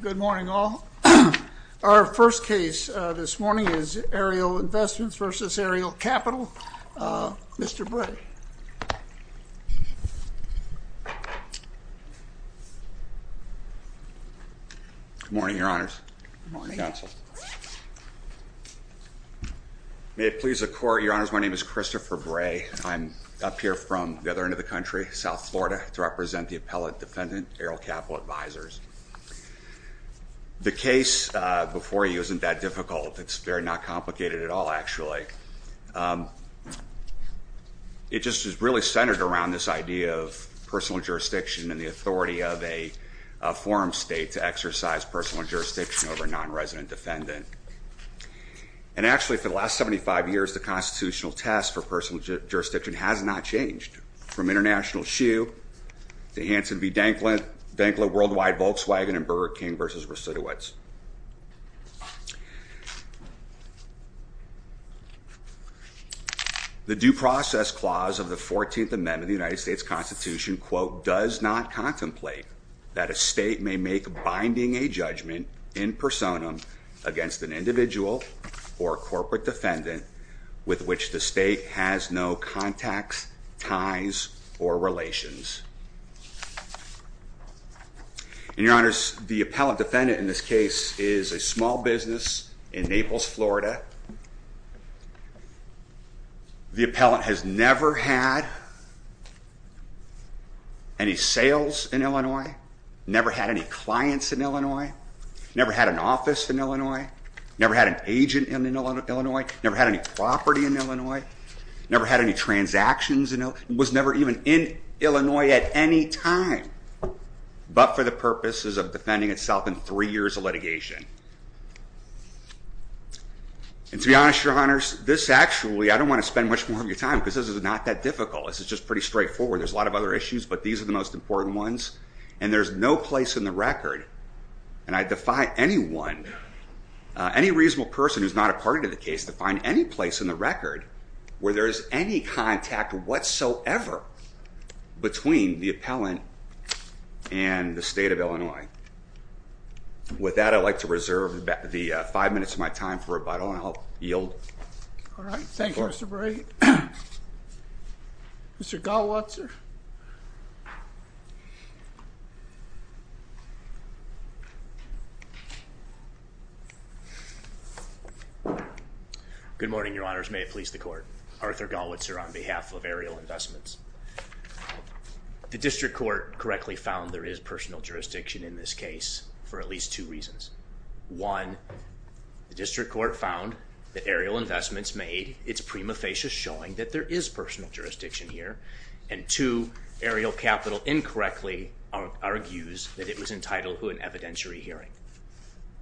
Good morning all. Our first case this morning is Ariel Investments v. Ariel Capital. Mr. Bray. Good morning, Your Honors. May it please the Court, Your Honors, my name is Christopher Bray. I'm up here from the other end of the country, South Florida, to represent the appellate defendant, Ariel Capital Advisors. The case before you isn't that difficult. It's very not complicated at all, actually. It just is really centered around this idea of personal jurisdiction and the authority of a forum state to exercise personal jurisdiction over a non-resident defendant. And actually, for the last 75 years, the constitutional test for personal jurisdiction has not changed. From International Shoe to Hanson v. Denkla, Denkla Worldwide, Volkswagen, and Burger King v. Residuits. The Due Process Clause of the 14th Amendment of the United States Constitution, quote, does not contemplate that a state may make binding a judgment in personam against an individual or corporate defendant with which the state has no contacts, ties, or relations. And, Your Honors, the appellate defendant in this case is a small business in Naples, Florida. The appellant has never had any sales in Illinois, never had any clients in Illinois, never had an office in Illinois, never had an agent in Illinois, never had any property in Illinois, never had any transactions in Illinois, was never even in Illinois at any time but for the purposes of defending itself in three years of litigation. And to be honest, Your Honors, this actually, I don't want to spend much more of your time because this is not that difficult. This is just pretty straightforward. There's a lot of other issues, but these are the most important ones. And there's no place in the record, and I defy anyone, any reasonable person who's not a party to the case to find any place in the record where there is any contact whatsoever between the appellant and the state of Illinois. With that, I'd like to reserve the five minutes of my time for rebuttal, and I'll yield. All right. Thank you, Mr. Brady. Mr. Galwitzer? Good morning, Your Honors. May it please the Court. Arthur Galwitzer on behalf of Ariel Investments. The District Court correctly found there is personal jurisdiction in this case for at least two reasons. One, the District Court found that Ariel Investments made its prima facie showing that there is personal jurisdiction here. And two, Ariel Capital incorrectly argues that it was entitled to an evidentiary hearing.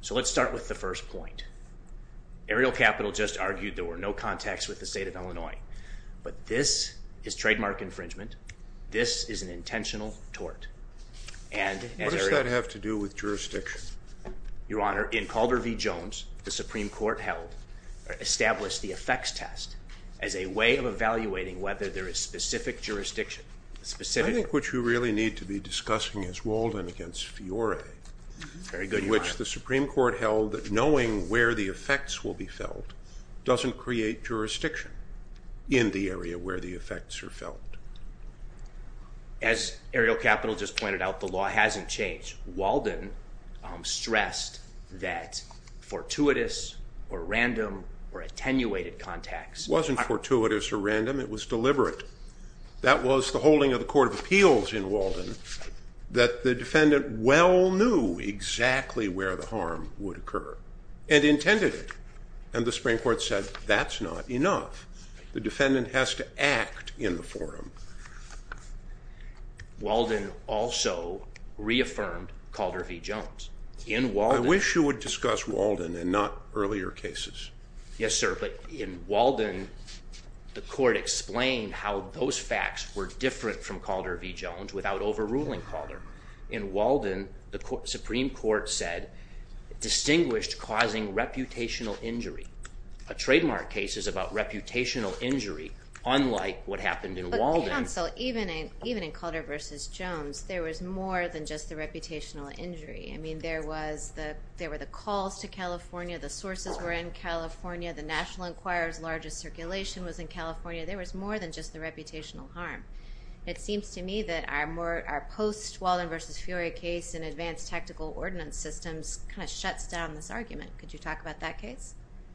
So let's start with the first point. Ariel Capital just argued there were no contacts with the state of Illinois, but this is trademark infringement. This is an intentional tort. What does that have to do with jurisdiction? Your Honor, in Calder v. Jones, the Supreme Court held or established the effects test as a way of evaluating whether there is specific jurisdiction. I think what you really need to be discussing is Walden v. Fiore. Very good, Your Honor. In which the Supreme Court held that knowing where the effects will be felt doesn't create jurisdiction in the area where the effects are felt. As Ariel Capital just pointed out, the law hasn't changed. Walden stressed that fortuitous or random or attenuated contacts... It wasn't fortuitous or random. It was deliberate. That was the holding of the Court of Appeals in Walden that the defendant well knew exactly where the harm would occur and intended it. And the Supreme Court said that's not enough. The defendant has to act in the forum. Walden also reaffirmed Calder v. Jones. In Walden... I wish you would discuss Walden and not earlier cases. Yes, sir. But in Walden, the Court explained how those facts were different from Calder v. Jones without overruling Calder. In Walden, the Supreme Court said distinguished causing reputational injury. A trademark case is about reputational injury, unlike what happened in Walden. But counsel, even in Calder v. Jones, there was more than just the reputational injury. I mean, there were the calls to California. The sources were in California. The National Enquirer's largest circulation was in California. There was more than just the reputational harm. It seems to me that our post-Walden v. Fiore case in advanced tactical ordinance systems kind of shuts down this argument. Could you talk about that case?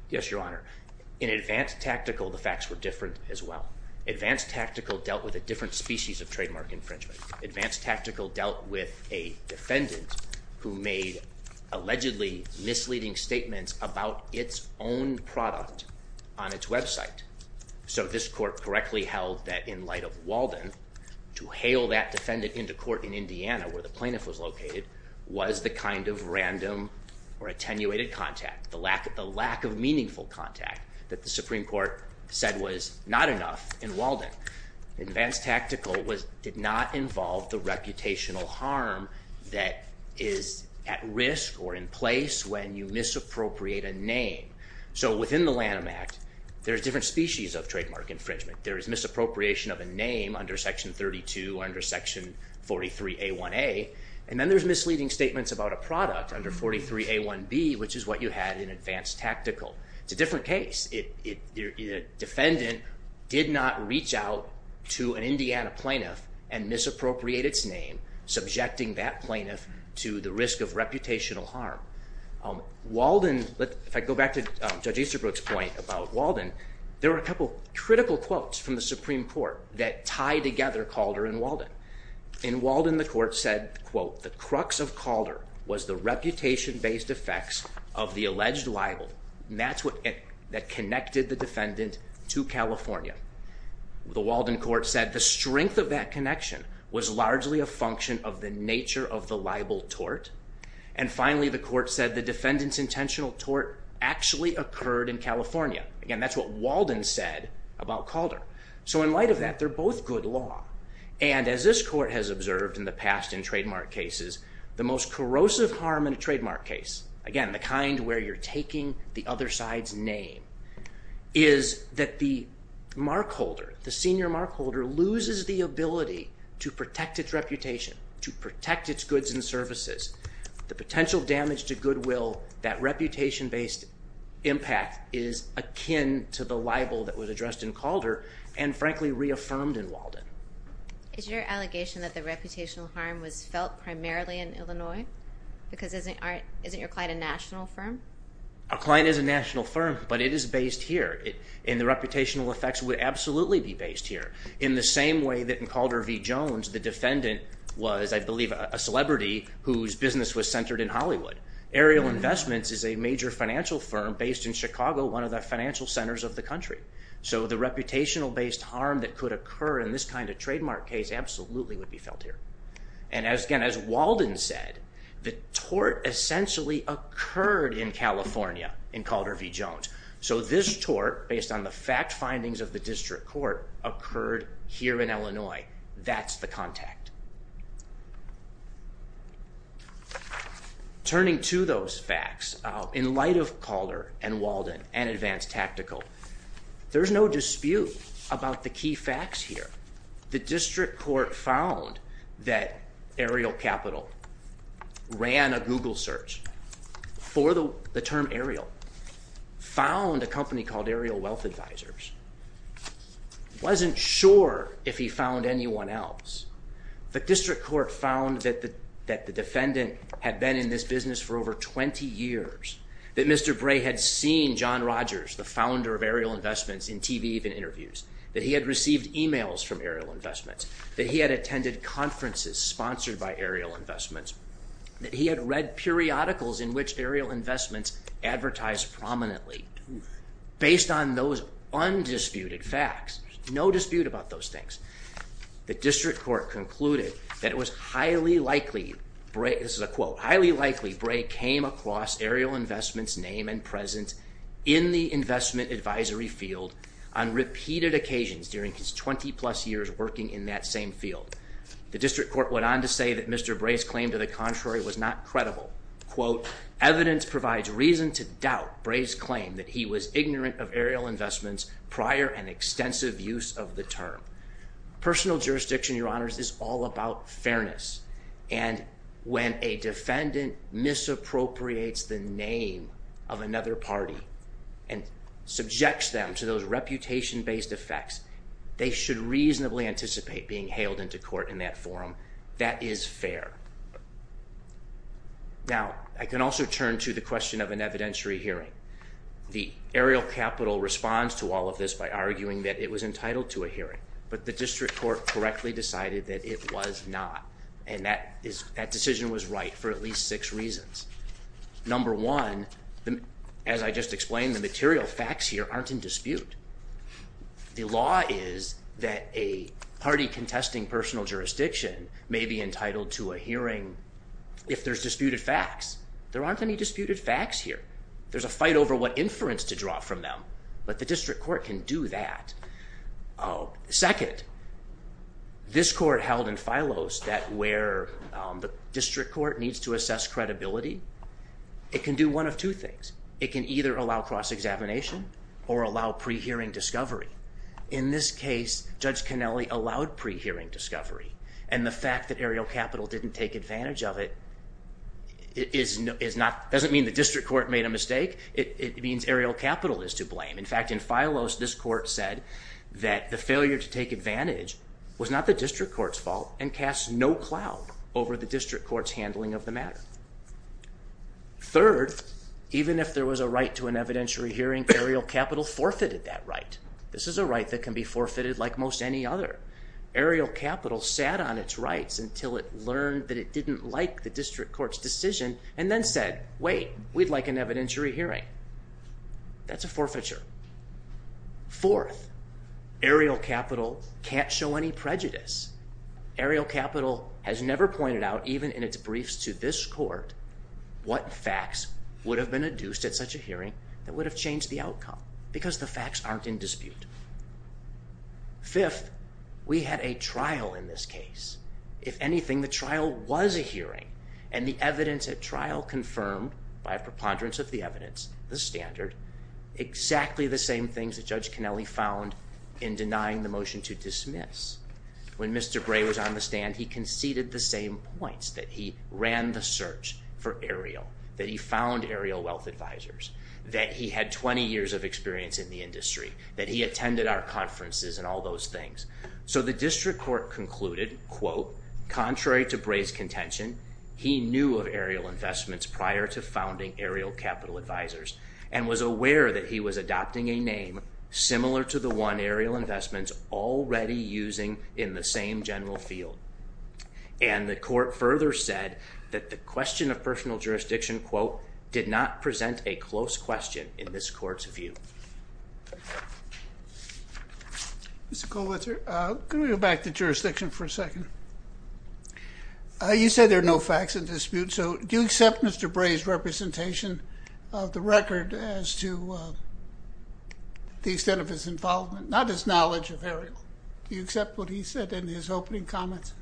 Yes, Your Honor. In advanced tactical, the facts were different as well. Advanced tactical dealt with a different species of trademark infringement. Advanced tactical dealt with a defendant who made allegedly misleading statements about its own product on its website. So this court correctly held that in light of Walden, to hail that defendant into court in Indiana, where the plaintiff was located, was the kind of random or attenuated contact, the lack of meaningful contact that the Supreme Court said was not enough in Walden. Advanced tactical did not involve the reputational harm that is at risk or in place when you misappropriate a name. So within the Lanham Act, there's different species of trademark infringement. There is misappropriation of a name under Section 32, under Section 43A1A, and then there's misleading statements about a product under 43A1B, which is what you had in advanced tactical. It's a different case. The defendant did not reach out to an Indiana plaintiff and misappropriate its name, subjecting that plaintiff to the risk of reputational harm. Walden, if I go back to Judge Easterbrook's point about Walden, there were a couple of critical quotes from the Supreme Court that tied together Calder and Walden. In Walden, the court said, quote, the crux of Calder was the reputation-based effects of the alleged libel, and that's what connected the defendant to California. The Walden court said the strength of that connection was largely a function of the nature of the libel tort. And finally, the court said the defendant's intentional tort actually occurred in California. Again, that's what Walden said about Calder. So in light of that, they're both good law. And as this court has observed in the past in trademark cases, the most corrosive harm in a trademark case, again, the kind where you're taking the other side's name, is that the mark holder, the senior mark holder, loses the ability to protect its reputation, to protect its goods and services. The potential damage to goodwill, that reputation-based impact, is akin to the libel that was addressed in Calder and frankly reaffirmed in Walden. Is your allegation that the reputational harm was felt primarily in Illinois? Because isn't your client a national firm? Our client is a national firm, but it is based here. And the reputational effects would absolutely be based here. In the same way that in Calder v. Jones, the defendant was, I believe, a celebrity whose business was centered in Hollywood. Aerial Investments is a major financial firm based in Chicago, one of the financial centers of the country. So the reputational-based harm that could occur in this kind of trademark case absolutely would be felt here. And as Walden said, the tort essentially occurred in California in Calder v. Jones. So this tort, based on the fact findings of the district court, occurred here in Illinois. That's the contact. Turning to those facts, in light of Calder and Walden and Advanced Tactical, there's no dispute about the key facts here. The district court found that Aerial Capital ran a Google search for the term Aerial, found a company called Aerial Wealth Advisors, wasn't sure if he found anyone else, but district court found that the defendant had been in this business for over 20 years, that Mr. Bray had seen John Rogers, the founder of Aerial Investments, in TV interviews, that he had received emails from Aerial Investments, that he had attended conferences sponsored by Aerial Investments, that he had read periodicals in which Aerial Investments advertised prominently. Based on those undisputed facts, there's no dispute about those things. The district court concluded that it was highly likely, this is a quote, highly likely Bray came across Aerial Investments' name and presence in the investment advisory field on repeated occasions during his 20-plus years working in that same field. The district court went on to say that Mr. Bray's claim to the contrary was not credible. Quote, evidence provides reason to doubt Bray's claim that he was ignorant of Aerial Investments' prior and extensive use of the term. Personal jurisdiction, your honors, is all about fairness, and when a defendant misappropriates the name of another party and subjects them to those reputation-based effects, they should reasonably anticipate being hailed into court in that forum. That is fair. Now, I can also turn to the question of an evidentiary hearing. The Aerial Capital responds to all of this by arguing that it was entitled to a hearing, but the district court correctly decided that it was not, and that decision was right for at least six reasons. Number one, as I just explained, the material facts here aren't in dispute. The law is that a party contesting personal jurisdiction may be entitled to a hearing if there's disputed facts. There aren't any disputed facts here. There's a fight over what inference to draw from them, but the district court can do that. Second, this court held in Phylos that where the district court needs to assess credibility, it can do one of two things. First, it can either allow cross-examination or allow pre-hearing discovery. In this case, Judge Kennelly allowed pre-hearing discovery, and the fact that Aerial Capital didn't take advantage of it doesn't mean the district court made a mistake. It means Aerial Capital is to blame. In fact, in Phylos, this court said that the failure to take advantage was not the district court's fault and casts no cloud over the district court's handling of the matter. Third, even if there was a right to an evidentiary hearing, Aerial Capital forfeited that right. This is a right that can be forfeited like most any other. Aerial Capital sat on its rights until it learned that it didn't like the district court's decision and then said, wait, we'd like an evidentiary hearing. That's a forfeiture. Fourth, Aerial Capital can't show any prejudice. Aerial Capital has never pointed out, even in its briefs to this court, what facts would have been adduced at such a hearing that would have changed the outcome, because the facts aren't in dispute. Fifth, we had a trial in this case. If anything, the trial was a hearing, and the evidence at trial confirmed, by a preponderance of the evidence, the standard, exactly the same things that Judge Connelly found in denying the motion to dismiss. When Mr. Bray was on the stand, he conceded the same points, that he ran the search for Aerial, that he found Aerial Wealth Advisors, that he had 20 years of experience in the industry, that he attended our conferences and all those things. So the district court concluded, quote, contrary to Bray's contention, he knew of Aerial Investments prior to founding Aerial Capital Advisors and was aware that he was adopting a name similar to the one Aerial Investments already using in the same general field. And the court further said that the question of personal jurisdiction, quote, did not present a close question in this court's view. Mr. Kollwitzer, can we go back to jurisdiction for a second? You said there are no facts in dispute. So do you accept Mr. Bray's representation of the record as to the extent of his involvement, not his knowledge of Aerial? Do you accept what he said in his opening comments?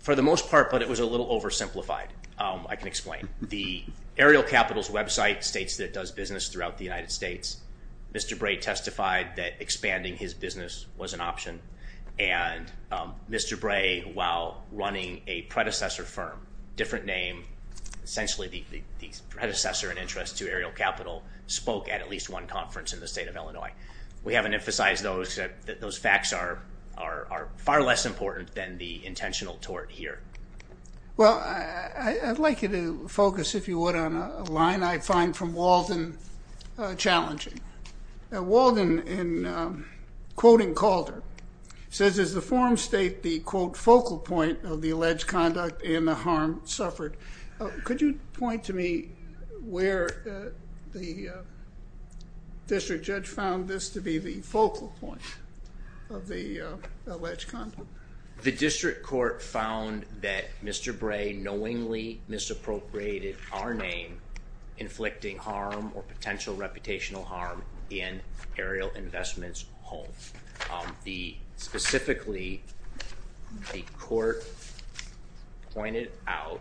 For the most part, but it was a little oversimplified, I can explain. The Aerial Capital's website states that it does business throughout the United States. Mr. Bray testified that expanding his business was an option. And Mr. Bray, while running a predecessor firm, different name, essentially the predecessor in interest to Aerial Capital, spoke at at least one conference in the state of Illinois. We haven't emphasized those. Those facts are far less important than the intentional tort here. Well, I'd like you to focus, if you would, on a line I find from Walden challenging. Walden, in quoting Calder, says, as the forum state the, quote, focal point of the alleged conduct and the harm suffered. Could you point to me where the district judge found this to be the focal point of the alleged conduct? The district court found that Mr. Bray knowingly misappropriated our name, was not inflicting harm or potential reputational harm in Aerial Investments' home. Specifically, the court pointed out,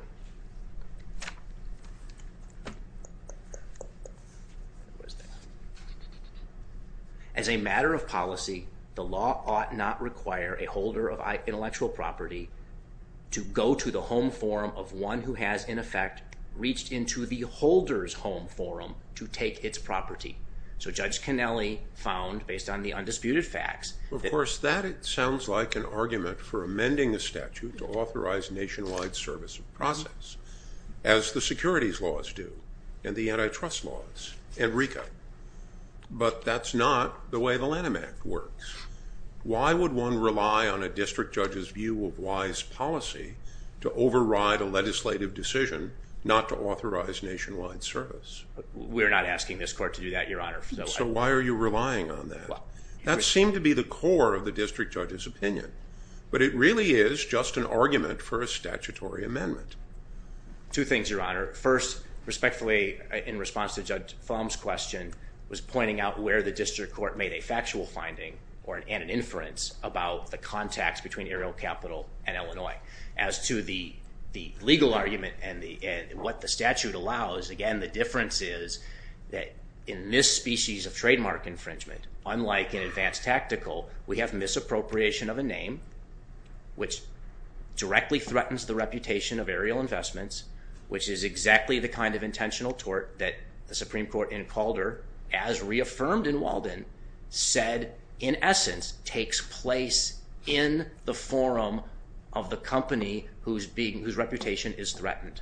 as a matter of policy, the law ought not require a holder of intellectual property to go to the home forum of one who has, in effect, reached into the holder's home forum to take its property. So Judge Kennelly found, based on the undisputed facts- Of course, that sounds like an argument for amending the statute to authorize nationwide service of process, as the securities laws do and the antitrust laws and RECA. But that's not the way the Lanham Act works. Why would one rely on a district judge's view of wise policy to override a legislative decision not to authorize nationwide service? We're not asking this court to do that, Your Honor. So why are you relying on that? That seemed to be the core of the district judge's opinion. But it really is just an argument for a statutory amendment. Two things, Your Honor. First, respectfully, in response to Judge Fulm's question, was pointing out where the district court made a factual finding and an inference about the contacts between Ariel Capital and Illinois. As to the legal argument and what the statute allows, again, the difference is that in this species of trademark infringement, unlike in advanced tactical, we have misappropriation of a name, which directly threatens the reputation of Ariel Investments, which is exactly the kind of intentional tort that the Supreme Court in Calder, as reaffirmed in Walden, said, in essence, takes place in the forum of the company whose reputation is threatened.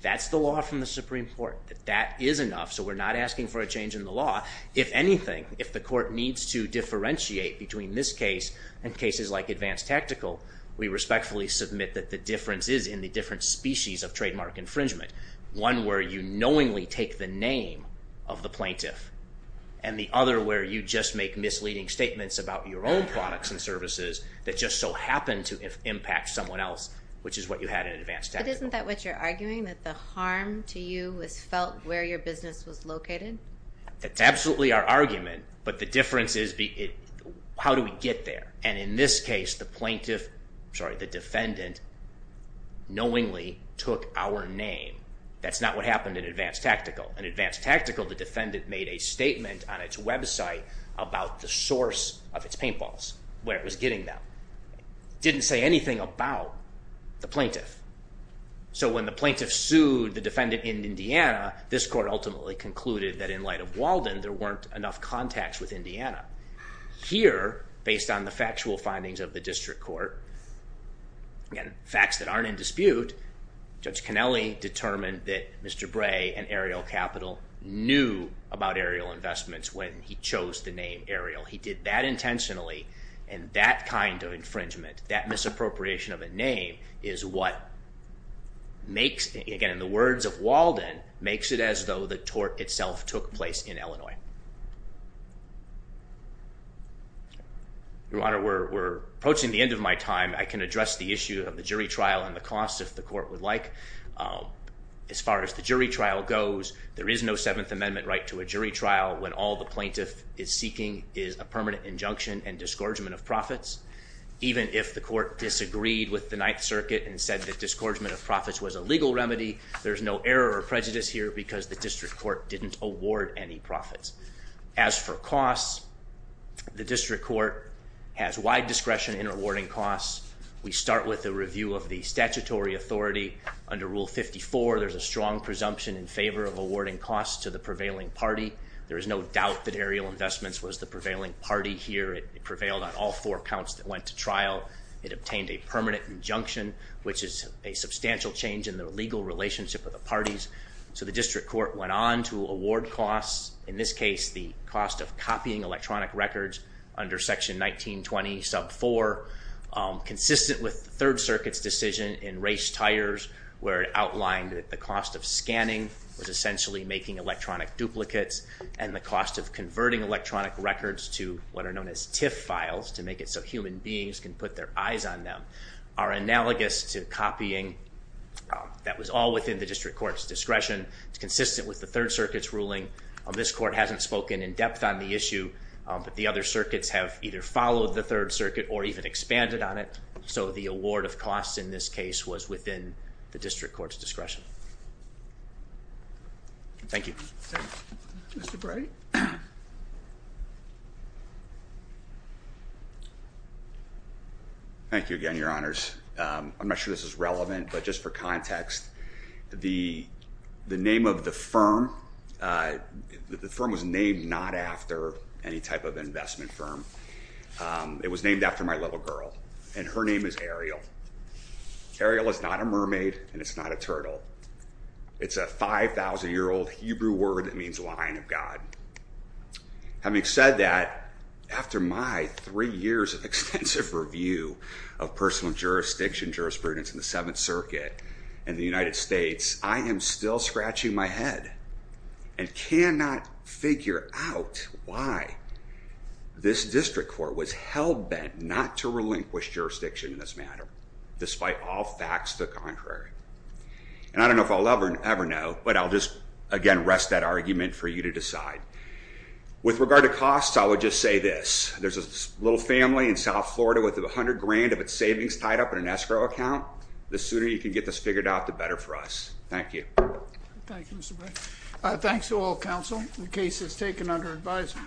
That's the law from the Supreme Court. That is enough. So we're not asking for a change in the law. If anything, if the court needs to differentiate between this case and cases like advanced tactical, we respectfully submit that the difference is in the different species of trademark infringement. One where you knowingly take the name of the plaintiff, and the other where you just make misleading statements about your own products and services that just so happen to impact someone else, which is what you had in advanced tactical. But isn't that what you're arguing, that the harm to you was felt where your business was located? That's absolutely our argument, but the difference is how do we get there? And in this case, the defendant knowingly took our name. That's not what happened in advanced tactical. In advanced tactical, the defendant made a statement on its website about the source of its paintballs, where it was getting them. It didn't say anything about the plaintiff. So when the plaintiff sued the defendant in Indiana, this court ultimately concluded that in light of Walden, there weren't enough contacts with Indiana. Here, based on the factual findings of the district court, and facts that aren't in dispute, Judge Cannelli determined that Mr. Bray and Ariel Capital knew about Ariel Investments when he chose the name Ariel. He did that intentionally, and that kind of infringement, that misappropriation of a name is what makes, again in the words of Walden, makes it as though the tort itself took place in Illinois. Your Honor, we're approaching the end of my time. I can address the issue of the jury trial and the cost if the court would like. As far as the jury trial goes, there is no Seventh Amendment right to a jury trial when all the plaintiff is seeking is a permanent injunction and disgorgement of profits. Even if the court disagreed with the Ninth Circuit and said that disgorgement of profits was a legal remedy, there is no error or prejudice here because the district court didn't award any profits. As for costs, the district court has wide discretion in awarding costs. We start with a review of the statutory authority. Under Rule 54, there's a strong presumption in favor of awarding costs to the prevailing party. There is no doubt that Ariel Investments was the prevailing party here. It prevailed on all four counts that went to trial. It obtained a permanent injunction, which is a substantial change in the legal relationship of the parties. So the district court went on to award costs. In this case, the cost of copying electronic records under Section 1920, sub 4, consistent with the Third Circuit's decision in race tires where it outlined that the cost of scanning was essentially making electronic duplicates and the cost of converting electronic records to what are known as TIFF files to make it so human beings can put their eyes on them are analogous to copying. That was all within the district court's discretion. It's consistent with the Third Circuit's ruling. This court hasn't spoken in depth on the issue, but the other circuits have either followed the Third Circuit or even expanded on it. So the award of costs in this case was within the district court's discretion. Thank you. Thank you. Mr. Bray? Thank you. Thank you again, Your Honors. I'm not sure this is relevant, but just for context, the name of the firm was named not after any type of investment firm. It was named after my little girl, and her name is Ariel. Ariel is not a mermaid, and it's not a turtle. It's a 5,000-year-old Hebrew word that means line of God. Having said that, after my three years of extensive review of personal jurisdiction jurisprudence in the Seventh Circuit and the United States, I am still scratching my head and cannot figure out why this district court was hell-bent not to relinquish jurisdiction in this matter, despite all facts the contrary. And I don't know if I'll ever know, but I'll just, again, rest that argument for you to decide. With regard to costs, I would just say this. There's a little family in South Florida with $100,000 of its savings tied up in an escrow account. The sooner you can get this figured out, the better for us. Thank you. Thank you, Mr. Bray. Thanks to all counsel. The case is taken under advisory.